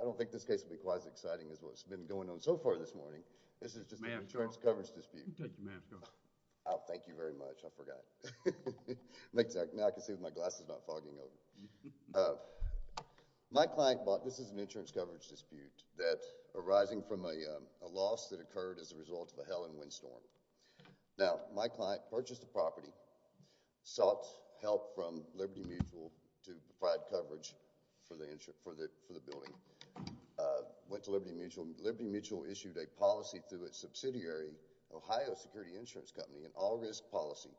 I don't think this case will be quite as exciting as what's been going on so far this morning. This is just an insurance coverage dispute. Oh, thank you very much, I forgot. Now I can see with my glasses not fogging up. My client bought, this is an insurance coverage dispute that arising from a loss that occurred as a result of a hail and wind storm. Now my client purchased the property, sought help from Liberty Mutual to provide coverage for the building, went to Liberty Mutual, and Liberty Mutual issued a policy through its subsidiary, Ohio Security Insurance Company, an all-risk policy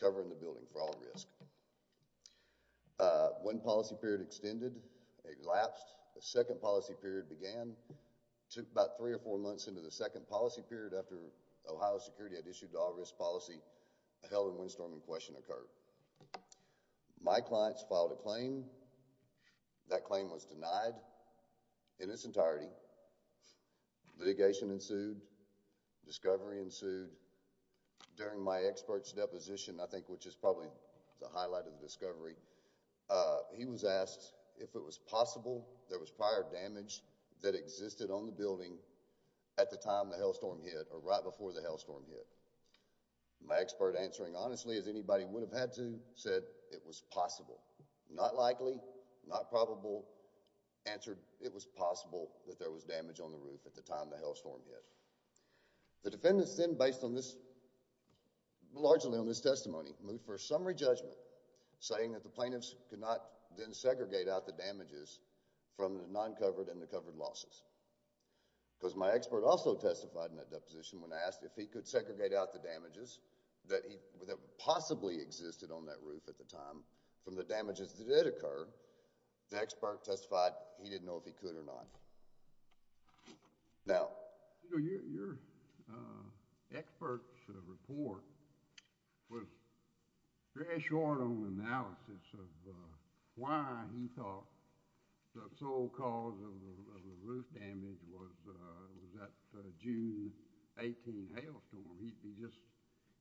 covering the building for all risk. One policy period extended, it lapsed, a second policy period began, took about three or four months, and then a month period after Ohio Security had issued the all-risk policy, a hail and wind storm in question occurred. My client filed a claim, that claim was denied in its entirety. Litigation ensued, discovery ensued. During my expert's deposition, I think which is probably the highlight of the discovery, he was asked if it was possible there was prior damage that existed on the building at the time the hailstorm hit or right before the hailstorm hit. My expert answering honestly as anybody would have had to said it was possible. Not likely, not probable, answered it was possible that there was damage on the roof at the time the hailstorm hit. The defendants then based on this, largely on this testimony, moved for a summary judgment saying that the plaintiffs could not then segregate out the damages from the non-covered and the covered losses because my expert also testified in that deposition when asked if he could segregate out the damages that he, that possibly existed on that roof at the time from the damages that did occur, the expert testified he didn't know if he could or not. Now, your expert's report was very short on analysis of why he thought the so-called roof damage was that June 18th hailstorm, he just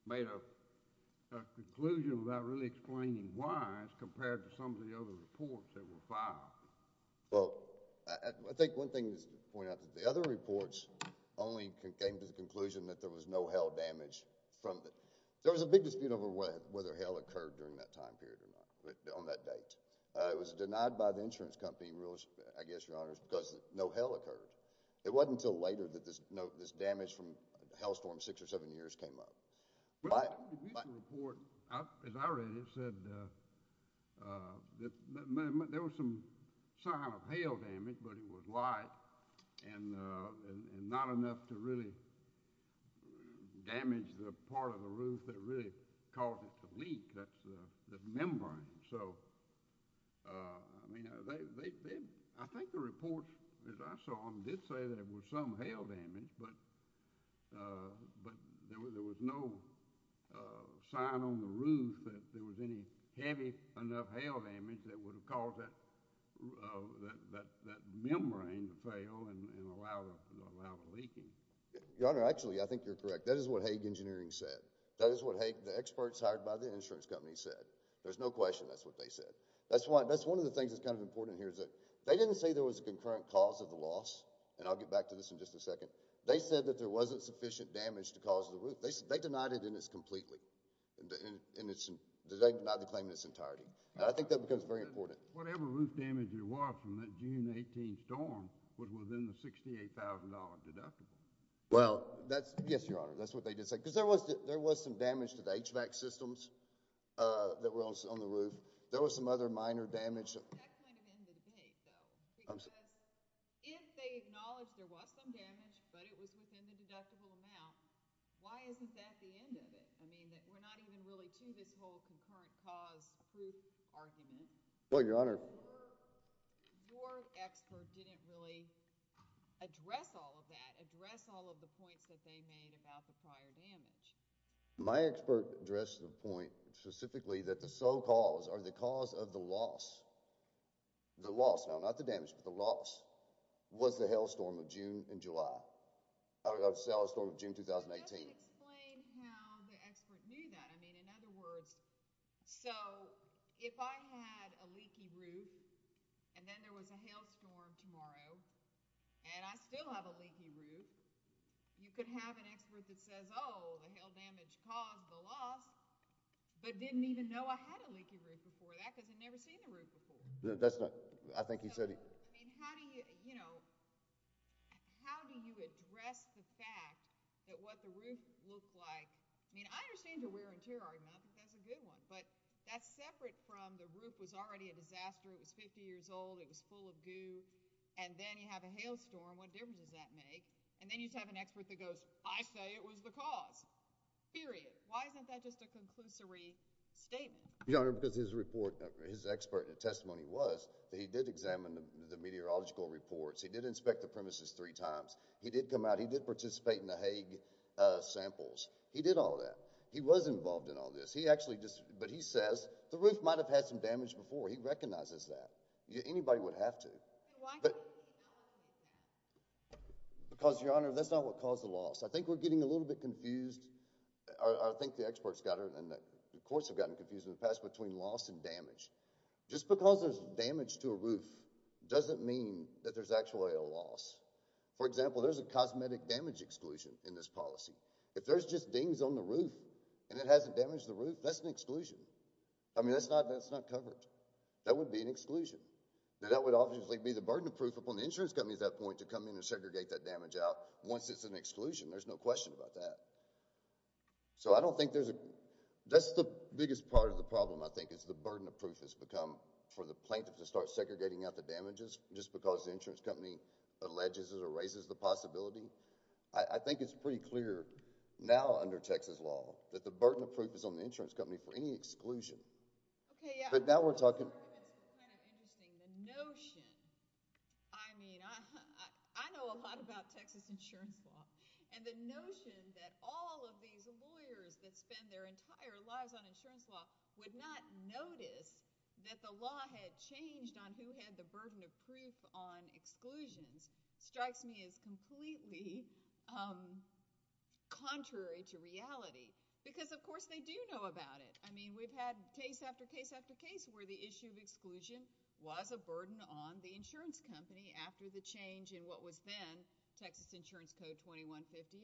made a conclusion without really explaining why as compared to some of the other reports that were filed. Well, I think one thing to point out is that the other reports only came to the conclusion that there was no hail damage from the, there was a big dispute over whether hail occurred during that time period or not, on that date. It was denied by the insurance company, I guess your honors, because no hail occurred. It wasn't until later that this damage from the hailstorm, six or seven years, came up. But in the report, as I read it, it said that there was some sign of hail damage, but it was light and not enough to really damage the part of the roof that really caused it to leak, that's the membrane. So, I mean, I think the reports, as I saw them, did say there was some hail damage, but there was no sign on the roof that there was any heavy enough hail damage that would have caused that membrane to fail and allow the leaking. Your honor, actually, I think you're correct. That is what Haig Engineering said. That is what the experts hired by the insurance company said. There's no question that's what they said. That's why, that's one of the things that's kind of important here is that they didn't say there was a concurrent cause of the loss, and I'll get back to this in just a second. They said that there wasn't sufficient damage to cause the roof. They said, they denied it in its completely, in its, they denied the claim in its entirety. And I think that becomes very important. Whatever roof damage there was from that June 18 storm was within the $68,000 deductible. Well, that's, yes, your honor, that's what they did say. There was some damage to the HVAC systems that were on the roof. There was some other minor damage. That's kind of in the debate, though, because if they acknowledged there was some damage, but it was within the deductible amount, why isn't that the end of it? I mean, we're not even really to this whole concurrent cause proof argument. Well, your honor. Or your expert didn't really address all of that, address all of the points that they made about the prior damage. My expert addressed the point specifically that the so-called, or the cause of the loss, the loss, now not the damage, but the loss, was the hail storm of June and July. I would say hail storm of June 2018. That doesn't explain how the expert knew that. I mean, in other words, so if I had a leaky roof, and then there was a hail storm tomorrow, and I still have a leaky roof, you could have an expert that says, oh, the hail damage caused the loss, but didn't even know I had a leaky roof before that, because I'd never seen the roof before. No, that's not—I think he said— So, I mean, how do you, you know, how do you address the fact that what the roof looked like—I mean, I understand you're wearing tear art now, but that's a good one. But that's separate from the roof was already a disaster. It was 50 years old. It was full of goo. And then you have a hail storm. What difference does that make? And then you have an expert that goes, I say it was the cause, period. Why isn't that just a conclusory statement? Your Honor, because his report, his expert testimony was that he did examine the meteorological reports. He did inspect the premises three times. He did come out. He did participate in the Hague samples. He did all that. He was involved in all this. He actually just—but he says the roof might have had some damage before. He recognizes that. Anybody would have to. But why can't you just acknowledge that? Because, Your Honor, that's not what caused the loss. I think we're getting a little bit confused. I think the experts got it, and the courts have gotten confused in the past between loss and damage. Just because there's damage to a roof doesn't mean that there's actually a loss. For example, there's a cosmetic damage exclusion in this policy. If there's just dings on the roof and it hasn't damaged the roof, that's an exclusion. I mean, that's not covered. That would be an exclusion. Then that would obviously be the burden of proof upon the insurance company at that point to come in and segregate that damage out once it's an exclusion. There's no question about that. So I don't think there's a—that's the biggest part of the problem, I think, is the burden of proof has become for the plaintiff to start segregating out the damages just because the insurance company alleges it or raises the possibility. I think it's pretty clear now under Texas law that the burden of proof is on the insurance company for any exclusion. But now we're talking— It's kind of interesting. The notion—I mean, I know a lot about Texas insurance law. And the notion that all of these lawyers that spend their entire lives on insurance law would not notice that the law had changed on who had the burden of proof on exclusions strikes me as completely contrary to reality. Because, of course, they do know about it. I mean, we've had case after case after case where the issue of exclusion was a burden on the insurance company after the change in what was then Texas Insurance Code 2158.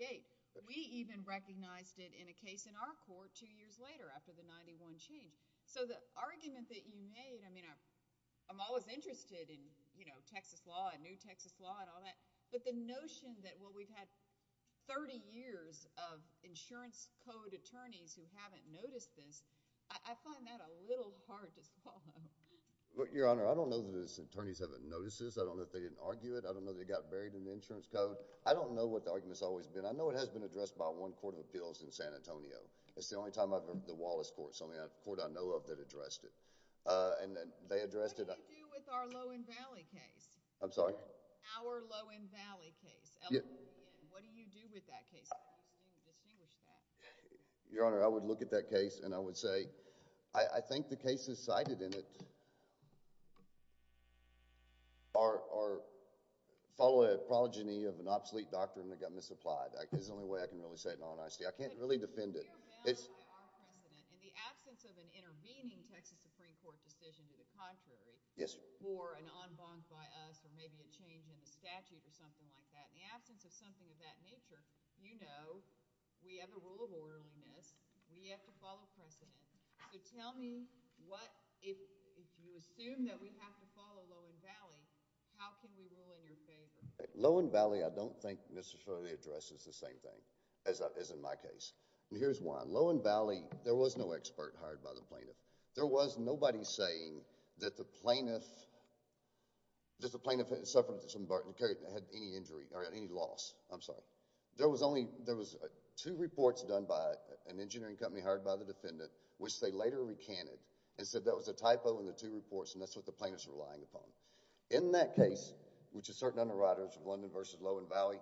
We even recognized it in a case in our court two years later after the 91 change. So the argument that you made—I mean, I'm always interested in, you know, Texas law and new Texas law and all that. But the notion that, well, we've had 30 years of insurance code attorneys who haven't noticed this, I find that a little hard to follow. Well, Your Honor, I don't know that its attorneys haven't noticed this. I don't know that they didn't argue it. I don't know they got buried in the insurance code. I don't know what the argument has always been. I know it has been addressed by one court of appeals in San Antonio. It's the only time I've heard the Wallace Court. It's the only court I know of that addressed it. And they addressed it— What do you do with our Lowen Valley case? I'm sorry? Our Lowen Valley case. What do you do with that case? I just didn't distinguish that. Your Honor, I would look at that case and I would say, I think the cases cited in it are—follow a prology of an obsolete doctrine that got misapplied. It's the only way I can really say it in all honesty. I can't really defend it. In the absence of an intervening Texas Supreme Court decision to the contrary— Yes, Your Honor. —or an en banc by us or maybe a change in the statute or something like that, in the absence of something of that nature, you know we have a rule of orderliness. We have to follow precedent. So tell me what—if you assume that we have to follow Lowen Valley, how can we rule in your favor? Lowen Valley I don't think necessarily addresses the same thing as in my case. Here's one. Lowen Valley, there was no expert hired by the plaintiff. There was nobody saying that the plaintiff— I'm sorry. There was two reports done by an engineering company hired by the defendant which they later recanted and said that was a typo in the two reports and that's what the plaintiff's relying upon. In that case, which is certain underwriters of London v. Lowen Valley,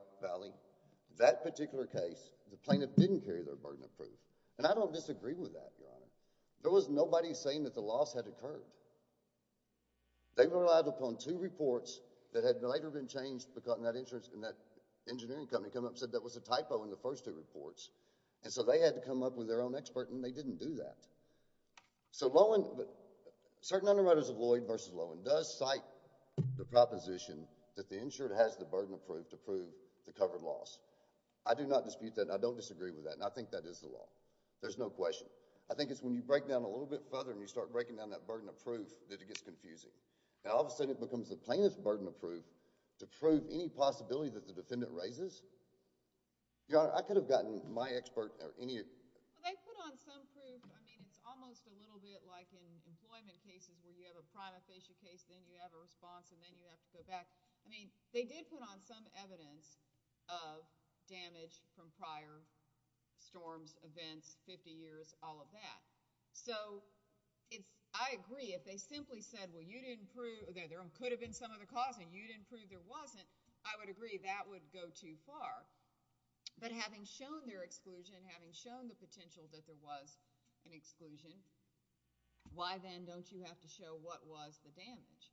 that particular case, the plaintiff didn't carry their burden of proof. And I don't disagree with that, Your Honor. There was nobody saying that the loss had occurred. They relied upon two reports that had later been changed because of that engineering company come up and said that was a typo in the first two reports. And so they had to come up with their own expert and they didn't do that. So Lowen—but certain underwriters of Lloyd v. Lowen does cite the proposition that the insured has the burden of proof to prove the covered loss. I do not dispute that and I don't disagree with that and I think that is the law. There's no question. I think it's when you break down a little bit further and you start breaking down that burden of proof that it gets confusing. Now all of a sudden it becomes the plaintiff's burden of proof to prove any possibility that the defendant raises. Your Honor, I could have gotten my expert or any— Well, they put on some proof. I mean, it's almost a little bit like in employment cases where you have a prima facie case, then you have a response, and then you have to go back. I mean, they did put on some evidence of damage from prior storms, events, 50 years, all of that. So I agree. If they simply said, well, you didn't prove—there could have been some other cause and you didn't prove there wasn't, I would agree that would go too far. But having shown their exclusion, having shown the potential that there was an exclusion, why then don't you have to show what was the damage?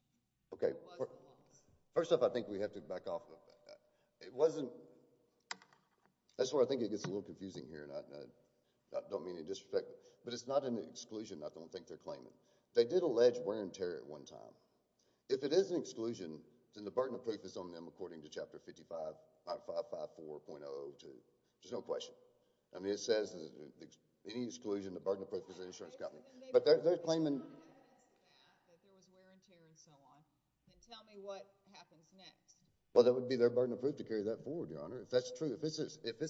Okay. First off, I think we have to back off. It wasn't—that's where I think it gets a little confusing here and I don't mean to disrespect, but it's not an exclusion I don't think they're claiming. They did allege wear and tear at one time. If it is an exclusion, then the burden of proof is on them according to Chapter 55.554.002. There's no question. I mean, it says any exclusion, the burden of proof is the insurance company. But they're claiming— If someone had to say that, that there was wear and tear and so on, then tell me what happens next. Well, that would be their burden of proof to carry that forward, Your Honor, if that's true. If it's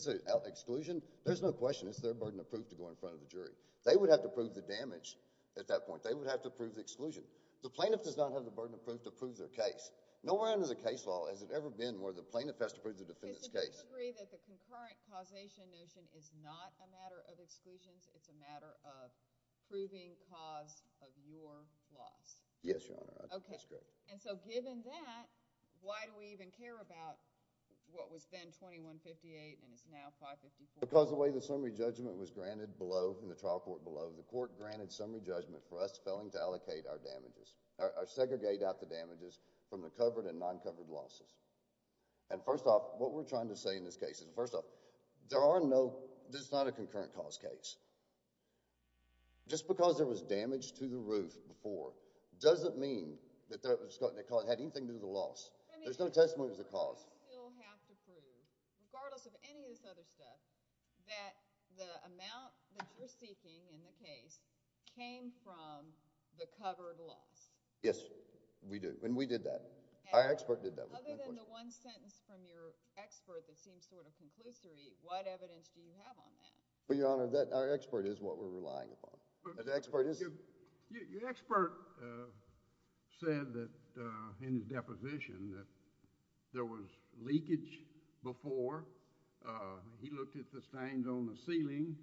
an exclusion, there's no question. It's their burden of proof to go in front of the jury. They would have to prove the damage at that point. They would have to prove the exclusion. The plaintiff does not have the burden of proof to prove their case. Nowhere under the case law has it ever been where the plaintiff has to prove the defendant's case. So do you agree that the concurrent causation notion is not a matter of exclusions? It's a matter of proving cause of your loss? Yes, Your Honor. Okay. And so given that, why do we even care about what was then 2158 and is now 554. Because the way the summary judgment was granted below, in the trial court below, the court granted summary judgment for us failing to allocate our damages, or segregate out the damages from the covered and non-covered losses. And first off, what we're trying to say in this case is, first off, there are no— this is not a concurrent cause case. Just because there was damage to the roof before doesn't mean that it had anything There's no testimony to the cause. You still have to prove, regardless of any of this other stuff, that the amount that you're seeking in the case came from the covered loss. Yes, we do. And we did that. Our expert did that. Other than the one sentence from your expert that seems sort of conclusory, what evidence do you have on that? Well, Your Honor, our expert is what we're relying upon. The expert is— Your expert said that, in his deposition, that there was leakage before. He looked at the stains on the ceiling,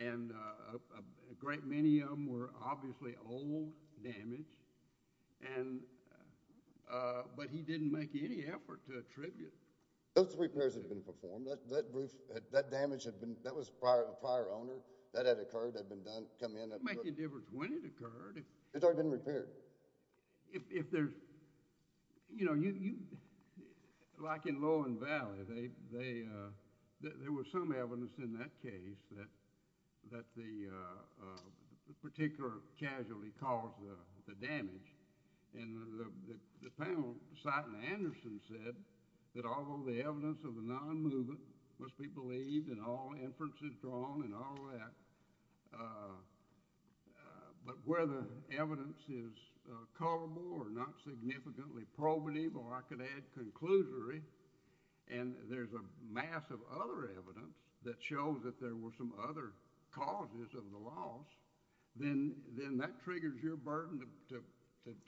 and a great many of them were obviously old damage. But he didn't make any effort to attribute— Those repairs had been performed. That roof, that damage had been—that was a prior owner. That had occurred. That had been done, come in— It doesn't make any difference when it occurred. It's already been repaired. If there's—you know, you—like in Lowen Valley, there was some evidence in that case that the particular casualty caused the damage. And the panel, Satin Anderson, said that although the evidence of the non-movement must be believed in all inferences drawn and all that, but where the evidence is colorable or not significantly probative, or I could add, conclusory, and there's a mass of other evidence that shows that there were some other causes of the loss, then that triggers your burden to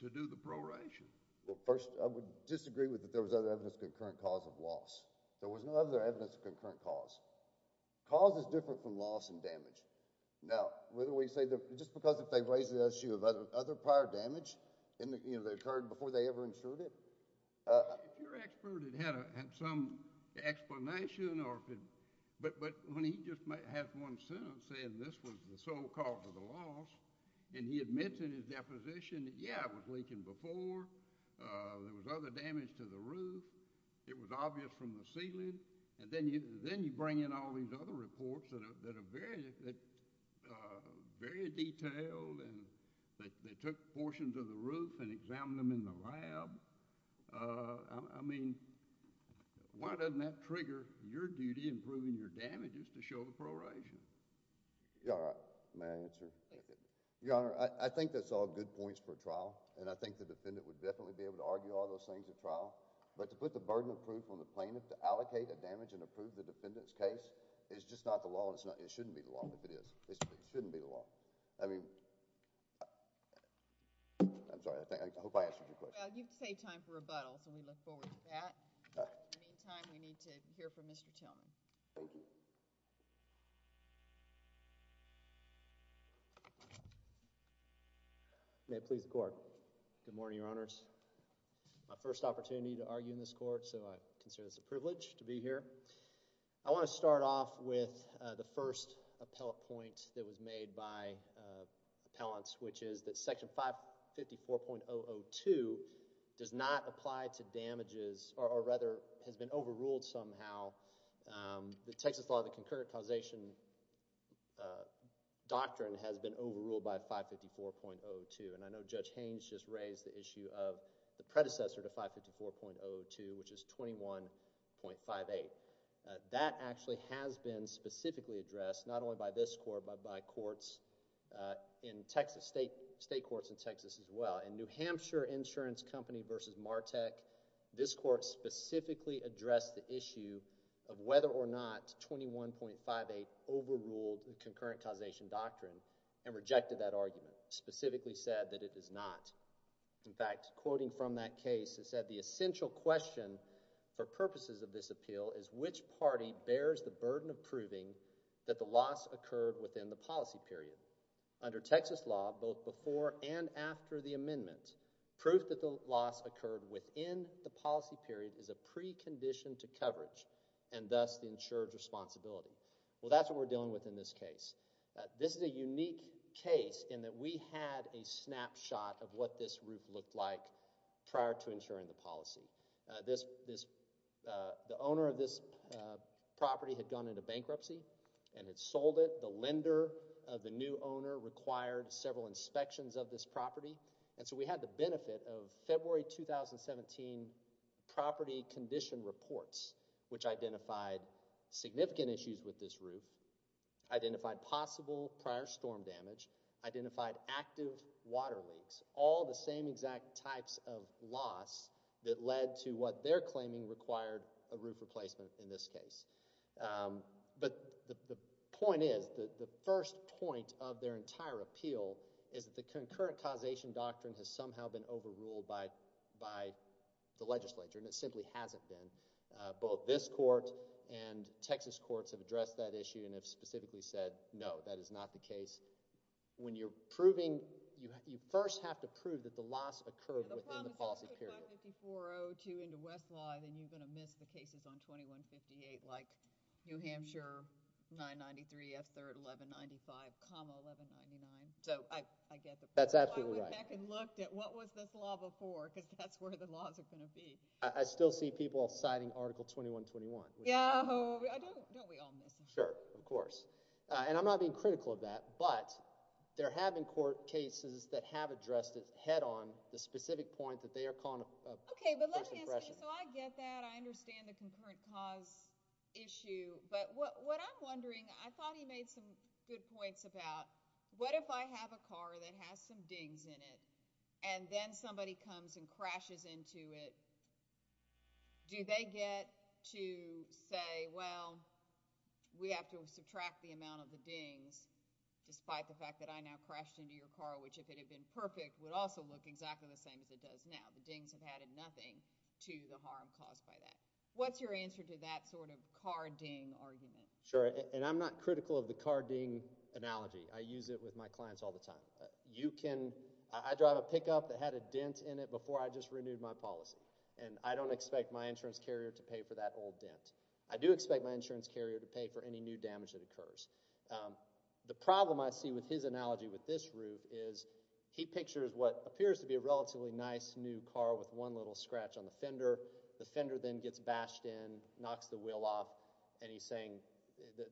do the proration. Well, first, I would disagree with that there was other evidence of concurrent cause of loss. There was no other evidence of concurrent cause. Cause is different from loss and damage. Now, whether we say—just because if they've raised the issue of other prior damage, and, you know, that occurred before they ever insured it— If your expert had had some explanation or—but when he just might have one sentence saying this was the sole cause of the loss, and he had mentioned in his deposition that, yeah, it was leaking before, there was other damage to the roof, it was obvious from the ceiling, and then you bring in all these other reports that are very, very detailed, and they took portions of the roof and examined them in the lab. I mean, why doesn't that trigger your duty in proving your damages to show the proration? Yeah, all right. May I answer? Yeah, go ahead. Your Honor, I think that's all good points for a trial, and I think the defendant would definitely be able to argue all those things at trial. But to put the burden of proof on the plaintiff to allocate a damage and approve the defendant's case is just not the law, and it shouldn't be the law if it is. It shouldn't be the law. I mean—I'm sorry, I hope I answered your question. Well, you've saved time for rebuttals, and we look forward to that. All right. In the meantime, we need to hear from Mr. Tillman. Thank you. May it please the Court. Good morning, Your Honors. My first opportunity to argue in this Court, so I consider this a privilege to be here. I want to start off with the first appellate point that was made by appellants, which is that Section 554.002 does not apply to damages, or rather has been overruled somehow. The Texas law, the concurrent causation doctrine has been overruled by 554.002, and I know Judge Haynes just raised the issue of the predecessor to 554.002, which is 21.58. That actually has been specifically addressed, not only by this Court, but by courts in Texas, state courts in Texas as well. In New Hampshire Insurance Company v. Martek, this Court specifically addressed the issue of whether or not 21.58 overruled the concurrent causation doctrine and rejected that argument, specifically said that it does not. In fact, quoting from that case, it said, the essential question for purposes of this appeal is which party bears the burden of proving that the loss occurred within the policy period. Under Texas law, both before and after the amendment, proof that the loss occurred within the policy period is a precondition to coverage, and thus the insured responsibility. Well, that's what we're dealing with in this case. This is a unique case in that we had a snapshot of what this roof looked like prior to insuring the policy. The owner of this property had gone into bankruptcy and had sold it. The lender of the new owner required several inspections of this property, and so we had the benefit of February 2017 property condition reports, which identified significant issues with this roof, identified possible prior storm damage, identified active water leaks, all the same exact types of loss that led to what they're claiming required a roof replacement in this case. But the point is, the first point of their entire appeal is that the concurrent causation doctrine has somehow been overruled by the legislature, and it simply hasn't been. Both this court and Texas courts have addressed that issue and have specifically said, no, that is not the case. When you're proving, you first have to prove that the loss occurred within the policy period. If you put 55402 into Westlaw, then you're going to miss the cases on 2158, like New Hampshire, 993, F3rd, 1195, comma 1199. So I get the point. That's absolutely right. I went back and looked at what was this law before, because that's where the laws are going to be. I still see people citing Article 2121. Yeah, don't we all miss it? Sure, of course. And I'm not being critical of that, but there have been court cases that have addressed it head on, the specific point that they are calling a fresh expression. OK, but let me ask you, so I get that. I understand the concurrent cause issue. But what I'm wondering, I thought he made some good points about, what if I have a car that has some dings in it, and then somebody comes and crashes into it, do they get to say, well, we have to subtract the amount of the dings, despite the fact that I now crashed into your car, which, if it had been perfect, would also look exactly the same as it does now. The dings have added nothing to the harm caused by that. What's your answer to that sort of car ding argument? Sure, and I'm not critical of the car ding analogy. I use it with my clients all the time. I drive a pickup that had a dent in it before I just renewed my policy, and I don't expect my insurance carrier to pay for that old dent. I do expect my insurance carrier to pay for any new damage that occurs. The problem I see with his analogy with this roof is, he pictures what appears to be a relatively nice new car with one little scratch on the fender. The fender then gets bashed in, knocks the wheel off, and he's saying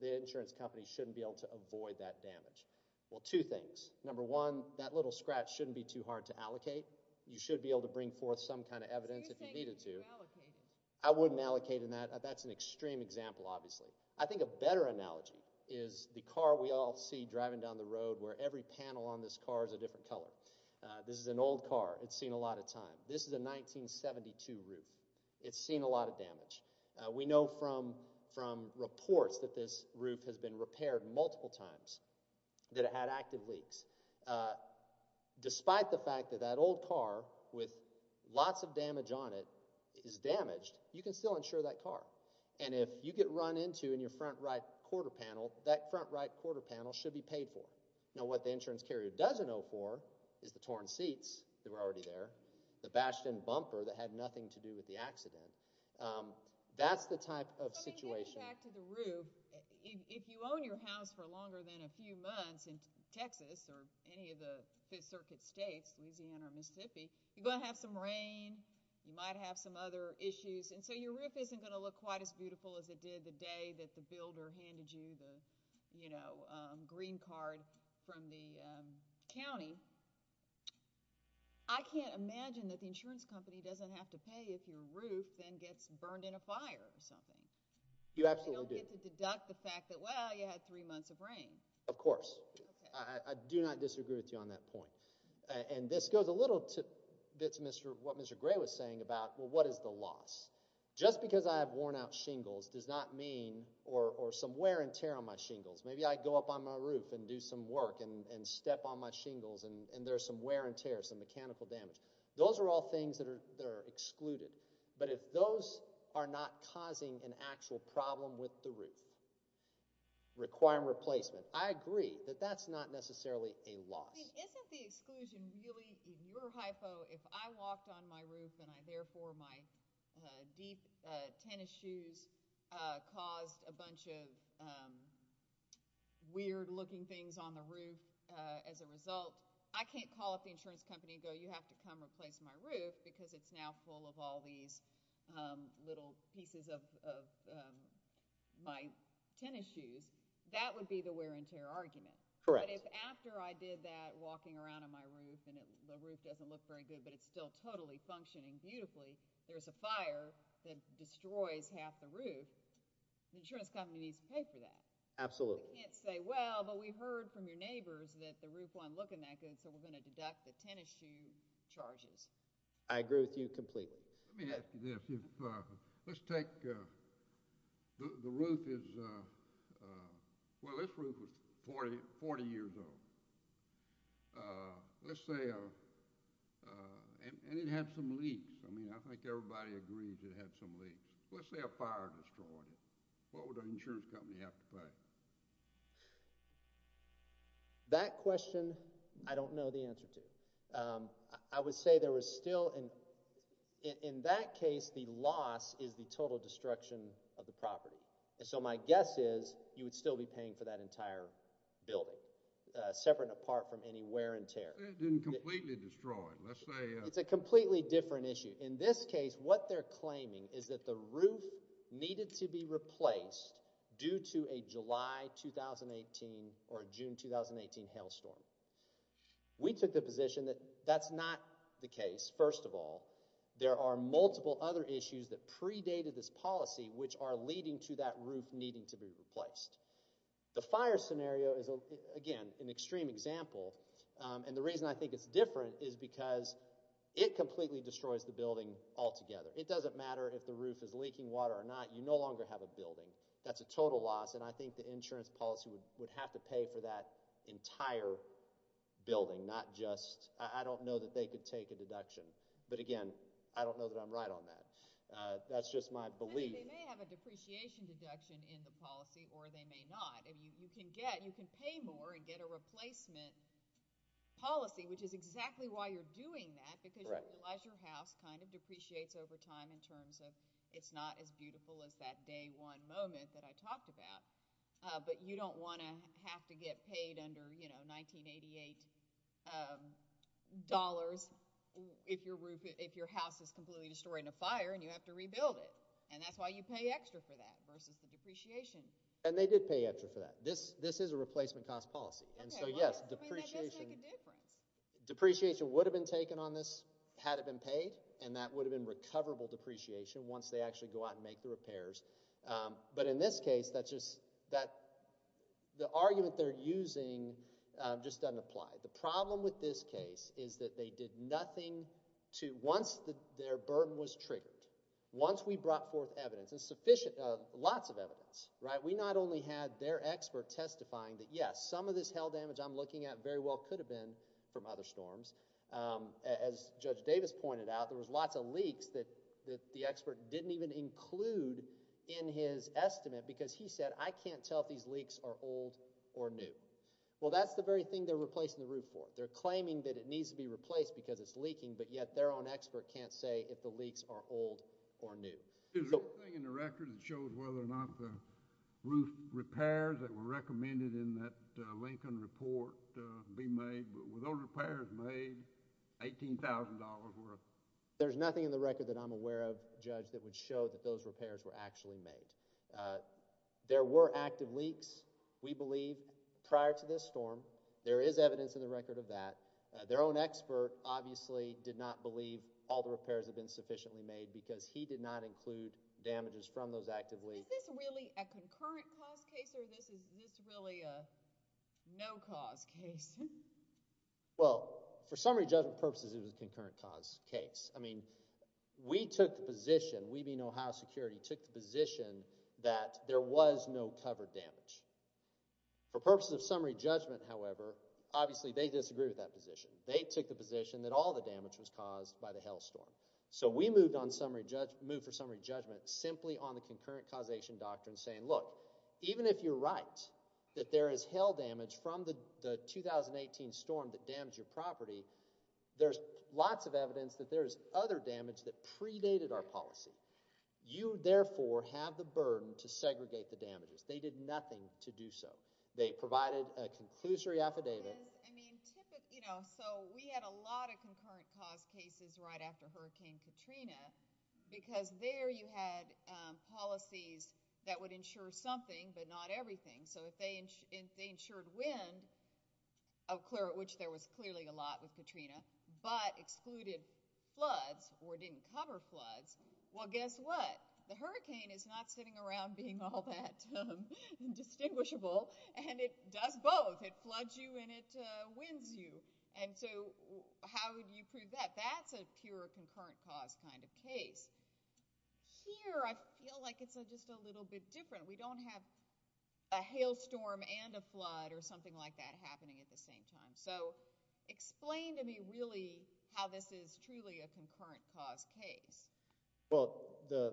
the insurance company shouldn't be able to avoid that damage. Well, two things. Number one, that little scratch shouldn't be too hard to allocate. You should be able to bring forth some kind of evidence if you needed to. So you're saying you should allocate it? I wouldn't allocate it. That's an extreme example, obviously. I think a better analogy is the car we all see driving down the road, where every panel on this car is a different color. This is an old car. This is a 1972 roof. It's seen a lot of damage. We know from reports that this roof has been repaired multiple times, that it had active leaks. Despite the fact that that old car, with lots of damage on it, is damaged, you can still insure that car. And if you get run into in your front right quarter panel, that front right quarter panel should be paid for. Now what the insurance carrier doesn't owe for is the torn seats that were already there, the bashed-in bumper that had nothing to do with the accident. That's the type of situation... Getting back to the roof, if you own your house for longer than a few months in Texas or any of the Fifth Circuit states, Louisiana or Mississippi, you're going to have some rain. You might have some other issues. And so your roof isn't going to look quite as beautiful as it did the day that the builder handed you the green card from the county. I can't imagine that the insurance company doesn't have to pay if your roof then gets burned in a fire or something. You absolutely do. They don't get to deduct the fact that, well, you had three months of rain. Of course. I do not disagree with you on that point. And this goes a little to what Mr. Gray was saying about, well, what is the loss? Just because I have worn out shingles does not mean, or some wear and tear on my shingles. Maybe I go up on my roof and do some work and step on my shingles and there's some wear and tear, some mechanical damage. Those are all things that are excluded. But if those are not causing an actual problem with the roof, requiring replacement, I agree that that's not necessarily a loss. Isn't the exclusion really, in your hypo, if I walked on my roof and I therefore my deep tennis shoes caused a bunch of weird looking things on the roof as a result, I can't call up the insurance company and go, you have to come replace my roof because it's now full of all these little pieces of my tennis shoes. That would be the wear and tear argument. Correct. But if after I did that walking around on my roof and the roof doesn't look very good but it's still totally functioning beautifully, there's a fire that destroys half the roof, the insurance company needs to pay for that. Absolutely. You can't say, well, but we heard from your neighbors that the roof won't look that good so we're going to deduct the tennis shoe charges. I agree with you completely. Let me ask you this. Let's take, the roof is, well, this roof was 40 years old. Let's say, and it had some leaks. I mean, I think everybody agrees it had some leaks. Let's say a fire destroyed it, what would the insurance company have to pay? That question, I don't know the answer to. I would say there was still, in that case, the loss is the total destruction of the property. So my guess is you would still be paying for that entire building, separate and apart from any wear and tear. It didn't completely destroy it. Let's say. It's a completely different issue. In this case, what they're claiming is that the roof needed to be replaced due to a July 2018 or June 2018 hailstorm. We took the position that that's not the case. First of all, there are multiple other issues that predated this policy, which are leading to that roof needing to be replaced. The fire scenario is, again, an extreme example. And the reason I think it's different is because it completely destroys the building altogether. It doesn't matter if the roof is leaking water or not. You no longer have a building. That's a total loss. I think the insurance policy would have to pay for that entire building, not just. I don't know that they could take a deduction. But again, I don't know that I'm right on that. That's just my belief. They may have a depreciation deduction in the policy, or they may not. You can pay more and get a replacement policy, which is exactly why you're doing that. Because you realize your house kind of depreciates over time in terms of it's not as beautiful as that day one moment that I talked about. But you don't want to have to get paid under, you know, 1988 dollars if your house is completely destroyed in a fire and you have to rebuild it. And that's why you pay extra for that versus the depreciation. And they did pay extra for that. This is a replacement cost policy. And so, yes, depreciation would have been taken on this had it been paid. And that would have been recoverable depreciation once they actually go out and make the repairs. But in this case, the argument they're using just doesn't apply. The problem with this case is that they did nothing once their burden was triggered. Once we brought forth evidence, and sufficient, lots of evidence, right? We not only had their expert testifying that, yes, some of this hail damage I'm looking at very well could have been from other storms. As Judge Davis pointed out, there was lots of leaks that the expert didn't even include in his estimate because he said, I can't tell if these leaks are old or new. Well, that's the very thing they're replacing the roof for. They're claiming that it needs to be replaced because it's leaking. But yet their own expert can't say if the leaks are old or new. There's a thing in the record that shows whether or not the roof repairs that were $18,000 worth. There's nothing in the record that I'm aware of, Judge, that would show that those repairs were actually made. There were active leaks, we believe, prior to this storm. There is evidence in the record of that. Their own expert obviously did not believe all the repairs have been sufficiently made because he did not include damages from those active leaks. Is this really a concurrent cause case or is this really a no cause case? Well, for summary judgment purposes, it was a concurrent cause case. I mean, we took the position, we being Ohio Security, took the position that there was no covered damage. For purposes of summary judgment, however, obviously they disagree with that position. They took the position that all the damage was caused by the hail storm. So we moved for summary judgment simply on the concurrent causation doctrine saying, even if you're right that there is hail damage from the 2018 storm that damaged your property, there's lots of evidence that there's other damage that predated our policy. You, therefore, have the burden to segregate the damages. They did nothing to do so. They provided a conclusory affidavit. So we had a lot of concurrent cause cases right after Hurricane Katrina because there you had policies that would insure something but not everything. So if they insured wind, which there was clearly a lot with Katrina, but excluded floods or didn't cover floods, well, guess what? The hurricane is not sitting around being all that indistinguishable and it does both. It floods you and it winds you. And so how would you prove that? That's a pure concurrent cause kind of case. Here, I feel like it's just a little bit different. We don't have a hail storm and a flood or something like that happening at the same time. So explain to me really how this is truly a concurrent cause case. Well,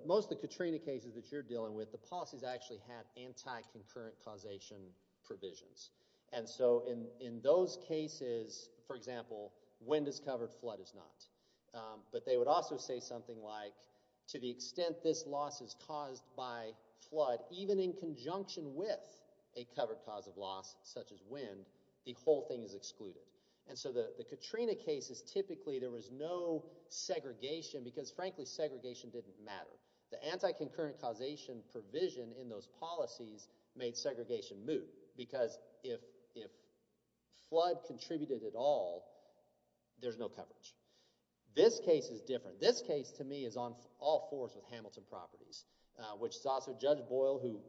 most of the Katrina cases that you're dealing with, the policies actually had anti-concurrent causation provisions. And so in those cases, for example, wind is covered, flood is not. But they would also say something like, to the extent this loss is caused by flood, even in conjunction with a covered cause of loss, such as wind, the whole thing is excluded. And so the Katrina cases, typically there was no segregation because, frankly, segregation didn't matter. The anti-concurrent causation provision in those policies made segregation moot because if flood contributed at all, there's no coverage. This case is different. This case, to me, is on all fours with Hamilton Properties, which is also Judge Boyle, who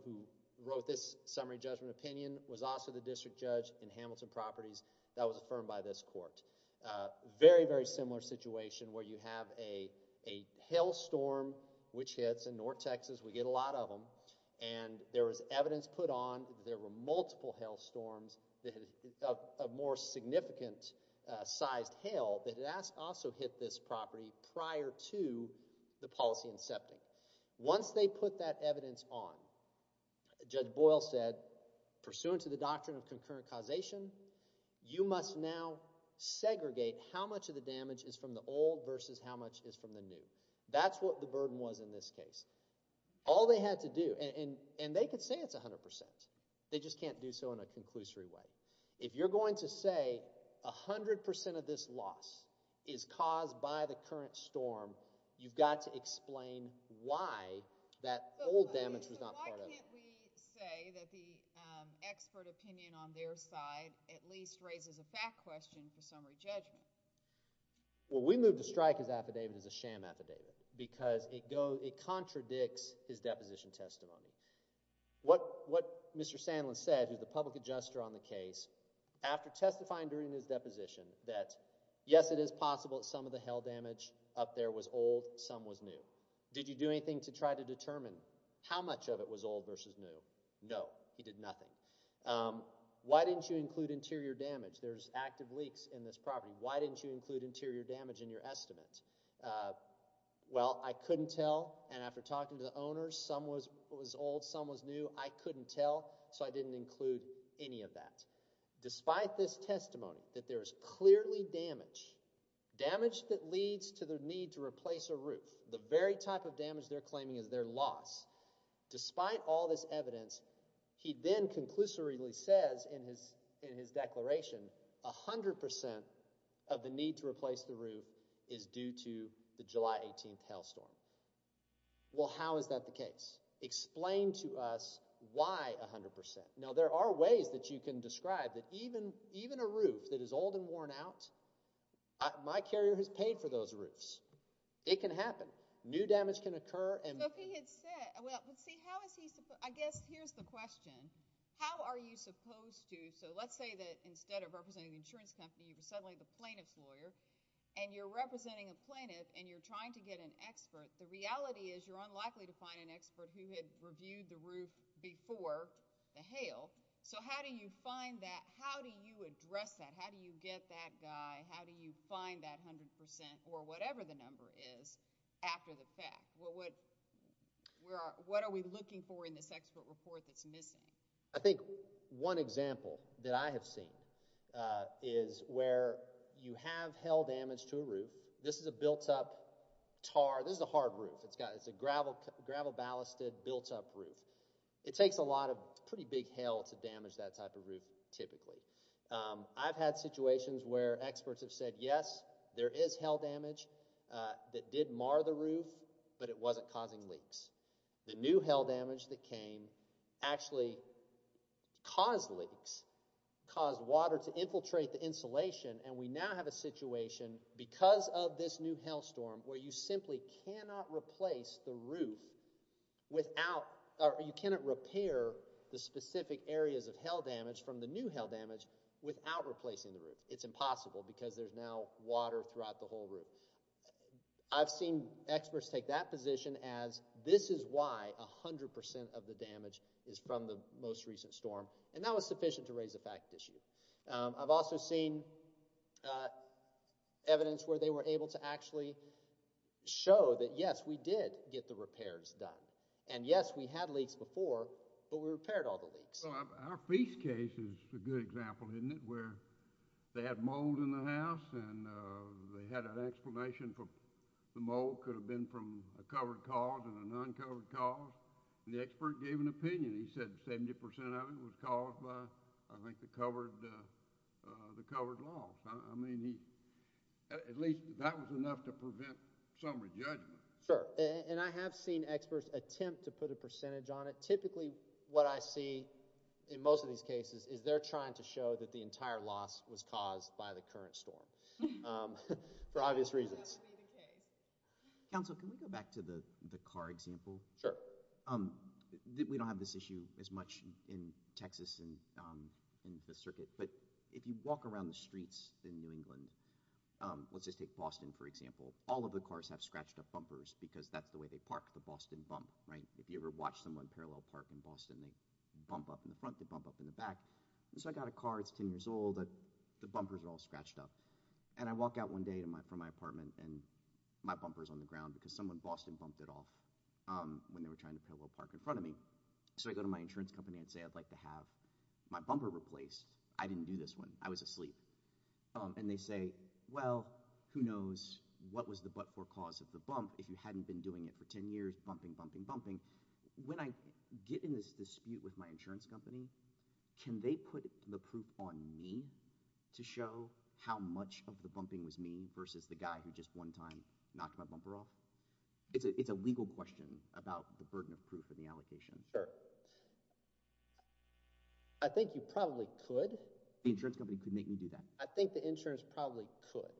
wrote this summary judgment opinion, was also the district judge in Hamilton Properties that was affirmed by this court. Very, very similar situation where you have a hail storm which hits in North Texas. We get a lot of them. And there was evidence put on that there were multiple hail storms, a more significant sized hail that also hit this property prior to the policy incepting. Once they put that evidence on, Judge Boyle said, pursuant to the doctrine of concurrent causation, you must now segregate how much of the damage is from the old versus how much is from the new. That's what the burden was in this case. All they had to do, and they could say it's 100%, they just can't do so in a conclusory way. If you're going to say 100% of this loss is caused by the current storm, you've got to explain why that old damage was not part of it. But why can't we say that the expert opinion on their side at least raises a fact question for summary judgment? Well, we moved to strike his affidavit as a sham affidavit because it contradicts his deposition testimony. What Mr. Sandlin said, who's the public adjuster on the case, after testifying during his deposition that yes, it is possible that some of the hail damage up there was old, some was new. Did you do anything to try to determine how much of it was old versus new? No, he did nothing. Why didn't you include interior damage? There's active leaks in this property. Why didn't you include interior damage in your estimate? Uh, well, I couldn't tell. And after talking to the owners, some was old, some was new. I couldn't tell. So I didn't include any of that. Despite this testimony that there is clearly damage, damage that leads to the need to replace a roof, the very type of damage they're claiming is their loss. Despite all this evidence, he then conclusively says in his in his declaration, 100% of the need to replace the roof is due to the July 18th hailstorm. Well, how is that the case? Explain to us why 100%. Now, there are ways that you can describe that even even a roof that is old and worn out, my carrier has paid for those roofs. It can happen. New damage can occur. And he had said, well, let's see, how is he? I guess here's the question. How are you supposed to? So let's say that instead of representing the insurance company, you were suddenly the insurance lawyer and you're representing a plaintiff and you're trying to get an expert. The reality is you're unlikely to find an expert who had reviewed the roof before the hail. So how do you find that? How do you address that? How do you get that guy? How do you find that 100% or whatever the number is after the fact? Well, what we're what are we looking for in this expert report that's missing? I think one example that I have seen is where you have hail damage to a roof. This is a built up tar. This is a hard roof. It's got it's a gravel, gravel ballasted built up roof. It takes a lot of pretty big hail to damage that type of roof. Typically, I've had situations where experts have said, yes, there is hail damage that did mar the roof, but it wasn't causing leaks. The new hail damage that came actually caused leaks, caused water to infiltrate the insulation, and we now have a situation because of this new hail storm where you simply cannot replace the roof without or you cannot repair the specific areas of hail damage from the new hail damage without replacing the roof. It's impossible because there's now water throughout the whole roof. I've seen experts take that position as this is why 100% of the damage is from the most recent storm, and that was sufficient to raise a fact issue. I've also seen evidence where they were able to actually show that, yes, we did get the repairs done. And yes, we had leaks before, but we repaired all the leaks. Our piece case is a good example, isn't it, where they had mold in the house and they said the explanation for the mold could have been from a covered cause and a non-covered cause, and the expert gave an opinion. He said 70% of it was caused by, I think, the covered loss. I mean, at least that was enough to prevent some re-judgment. Sure, and I have seen experts attempt to put a percentage on it. Typically, what I see in most of these cases is they're trying to show that the entire loss was caused by the current storm. For obvious reasons. Counsel, can we go back to the car example? Sure. We don't have this issue as much in Texas and in the circuit, but if you walk around the streets in New England, let's just take Boston, for example. All of the cars have scratched up bumpers because that's the way they park the Boston bump, right? If you ever watch someone parallel park in Boston, they bump up in the front, they bump up in the back. I got a car, it's 10 years old, the bumpers are all scratched up. I walk out one day from my apartment and my bumper's on the ground because someone in Boston bumped it off when they were trying to parallel park in front of me. I go to my insurance company and say, I'd like to have my bumper replaced. I didn't do this one. I was asleep. And they say, well, who knows what was the but-for cause of the bump if you hadn't been doing it for 10 years, bumping, bumping, bumping. When I get in this dispute with my insurance company, can they put the proof on me to show how much of the bumping was me versus the guy who just one time knocked my bumper off? It's a legal question about the burden of proof and the allocation. Sure. I think you probably could. The insurance company could make me do that. I think the insurance probably could.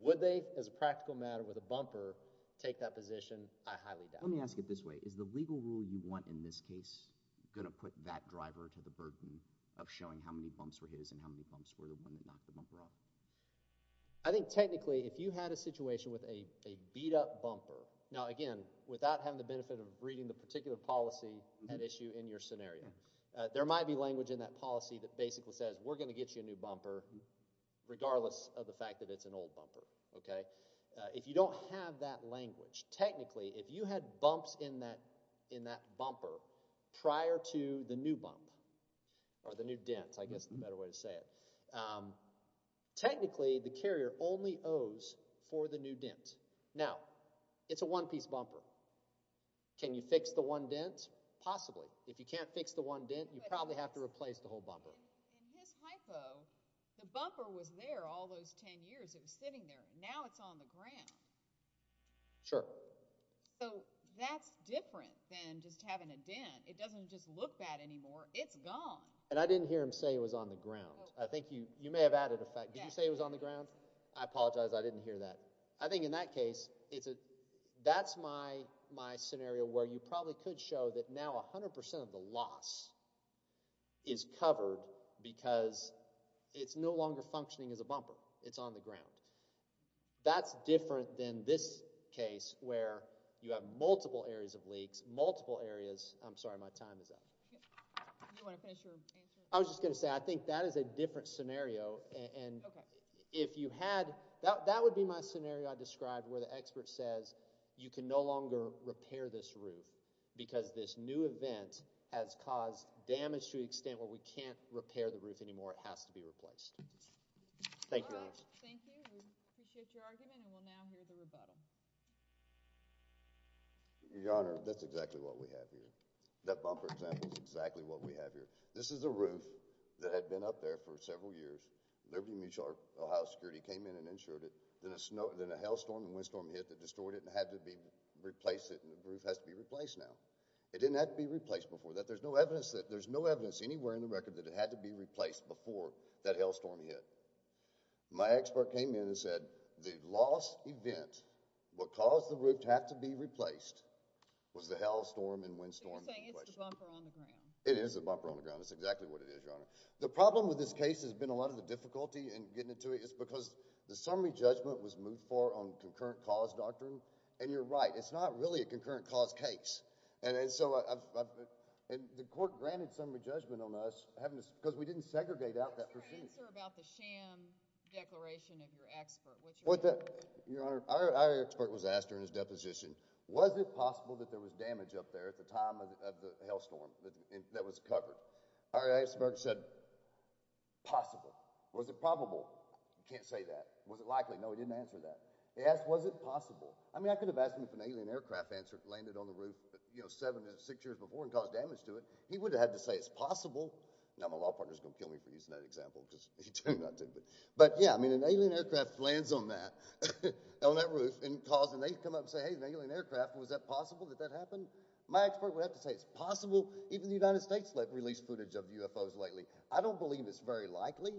Would they, as a practical matter with a bumper, take that position? I highly doubt it. Let me ask it this way. Is the legal rule you want in this case going to put that driver to the burden of showing how many bumps were his and how many bumps were the one that knocked the bumper off? I think technically, if you had a situation with a beat up bumper, now again, without having the benefit of reading the particular policy at issue in your scenario, there might be language in that policy that basically says, we're going to get you a new bumper, regardless of the fact that it's an old bumper. Okay? If you don't have that language, technically, if you had bumps in that bumper prior to the new bump or the new dents, I guess is the better way to say it, technically, the carrier only owes for the new dents. Now, it's a one piece bumper. Can you fix the one dent? Possibly. If you can't fix the one dent, you probably have to replace the whole bumper. In his hypo, the bumper was there all those 10 years. It was sitting there. Now, it's on the ground. Sure. So, that's different than just having a dent. It doesn't just look bad anymore. It's gone. And I didn't hear him say it was on the ground. I think you may have added a fact. Did you say it was on the ground? I apologize. I didn't hear that. I think in that case, that's my scenario where you probably could show that now 100% of the loss is covered because it's no longer functioning as a bumper. It's on the ground. That's different than this case where you have multiple areas of leaks, multiple areas. I'm sorry. My time is up. You want to finish your answer? I was just going to say, I think that is a different scenario. And if you had that, that would be my scenario I described where the expert says you can no longer repair this roof because this new event has caused damage to the extent where we can't repair the roof anymore. It has to be replaced. Thank you. All right. Thank you. We appreciate your argument. And we'll now hear the rebuttal. Your Honor, that's exactly what we have here. That bumper example is exactly what we have here. This is a roof that had been up there for several years. Liberty Mutual, our Ohio security, came in and insured it. Then a snow, then a hailstorm and windstorm hit that destroyed it and had to be replaced it. And the roof has to be replaced now. It didn't have to be replaced before that. There's no evidence that, there's no evidence anywhere in the record that it had to be hit. My expert came in and said the lost event, what caused the roof to have to be replaced, was the hailstorm and windstorm. So you're saying it's the bumper on the ground. It is the bumper on the ground. That's exactly what it is, Your Honor. The problem with this case has been a lot of the difficulty in getting into it is because the summary judgment was moved for on concurrent cause doctrine. And you're right. It's not really a concurrent cause case. And so I've, and the court granted summary judgment on us having to, because we didn't segregate out that pursuit. Answer about the sham declaration of your expert. What's your answer? Your Honor, our expert was asked during his deposition, was it possible that there was damage up there at the time of the hailstorm that was covered? Our expert said, possible. Was it probable? Can't say that. Was it likely? No, he didn't answer that. He asked, was it possible? I mean, I could have asked him if an alien aircraft answered, landed on the roof, you know, seven to six years before and caused damage to it. He would have had to say it's possible. Now my law partner is going to kill me for using that example because he turned out to, but, but yeah, I mean, an alien aircraft lands on that, on that roof and cause, and they come up and say, Hey, an alien aircraft. Was that possible that that happened? My expert would have to say it's possible. Even the United States let released footage of UFOs lately. I don't believe it's very likely,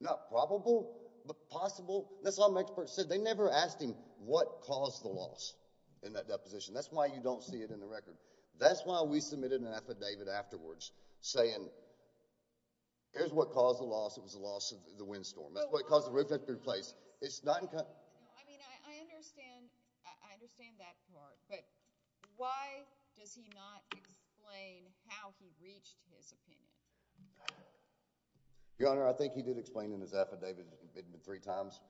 not probable, but possible. That's all my expert said. They never asked him what caused the loss in that deposition. That's why you don't see it in the record. That's why we submitted an affidavit afterwards saying, here's what caused the loss. It was the loss of the windstorm. That's what caused the roof to be replaced. It's not. I mean, I understand, I understand that part, but why does he not explain how he reached his opinion? Your Honor, I think he did explain in his affidavit three times.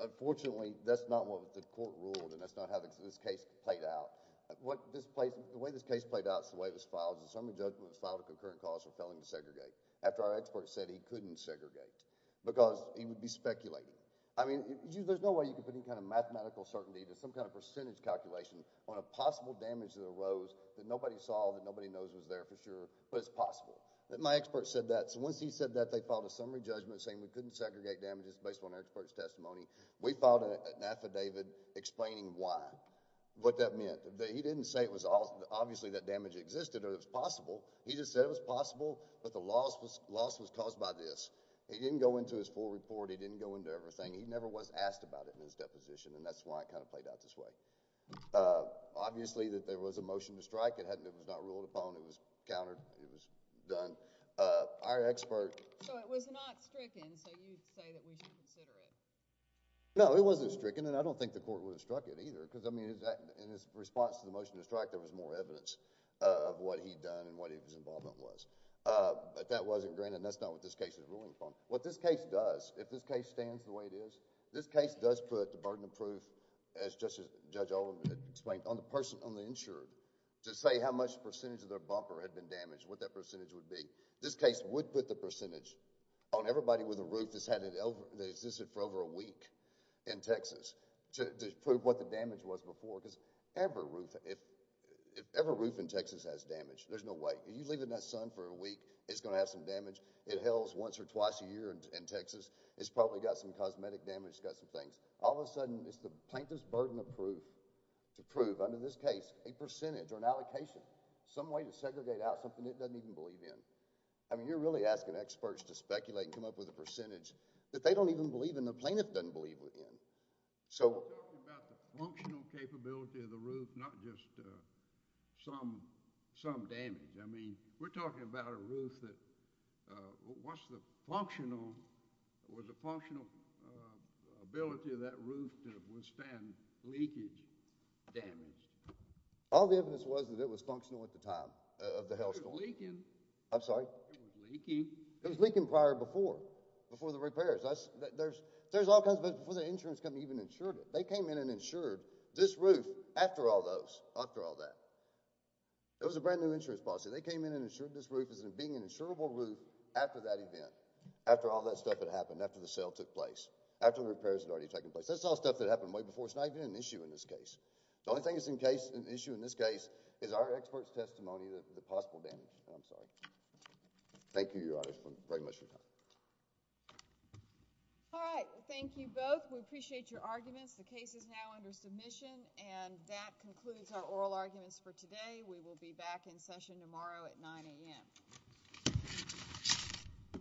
Unfortunately, that's not what the court ruled and that's not how this case played out. What this place, the way this case played out is the way it was filed. The summary judgment was filed a concurrent cause for felon to segregate after our expert said he couldn't segregate because he would be speculating. I mean, there's no way you can put any kind of mathematical certainty to some kind of percentage calculation on a possible damage that arose that nobody saw, that nobody knows was there for sure, but it's possible. My expert said that. So once he said that, they filed a summary judgment saying we couldn't segregate damages based on our expert's testimony. We filed an affidavit explaining why. What that meant. He didn't say it was obviously that damage existed or it was possible. He just said it was possible, but the loss was caused by this. He didn't go into his full report. He didn't go into everything. He never was asked about it in his deposition and that's why it kind of played out this way. Obviously, that there was a motion to strike. It was not ruled upon. It was countered. It was done. Our expert... So it was not stricken, so you'd say that we should consider it. No, it wasn't stricken and I don't think the court would have struck it either because in his response to the motion to strike, there was more evidence of what he'd done and what his involvement was, but that wasn't granted and that's not what this case is ruling from. What this case does, if this case stands the way it is, this case does put the burden of proof, as Judge Olin explained, on the person, on the insured to say how much percentage of their bumper had been damaged, what that percentage would be. This case would put the percentage on everybody with a roof that existed for over a week in Texas to prove what the damage was before because every roof in Texas has damage. There's no way. You leave it in that sun for a week, it's going to have some damage. It hails once or twice a year in Texas. It's probably got some cosmetic damage. It's got some things. All of a sudden, it's the plaintiff's burden of proof to prove under this case a percentage or an allocation, some way to segregate out something it doesn't even believe in. I mean, you're really asking experts to speculate and come up with a percentage that they don't even believe and the plaintiff doesn't believe in. We're talking about the functional capability of the roof, not just some damage. I mean, we're talking about a roof that was a functional ability of that roof to withstand leakage damage. All the evidence was that it was functional at the time of the hellstorm. It was leaking. I'm sorry? It was leaking. It was leaking prior before, before the repairs. There's all kinds of evidence before the insurance company even insured it. They came in and insured this roof after all those, after all that. It was a brand new insurance policy. They came in and insured this roof as being an insurable roof after that event, after all that stuff that happened, after the sale took place, after the repairs had already taken place. That's all stuff that happened way before. It's not even an issue in this case. The only thing that's an issue in this case is our expert's testimony of the possible damage. I'm sorry. Thank you, Your Honor, very much for your time. All right. Thank you both. We appreciate your arguments. The case is now under submission, and that concludes our oral arguments for today. We will be back in session tomorrow at 9 a.m.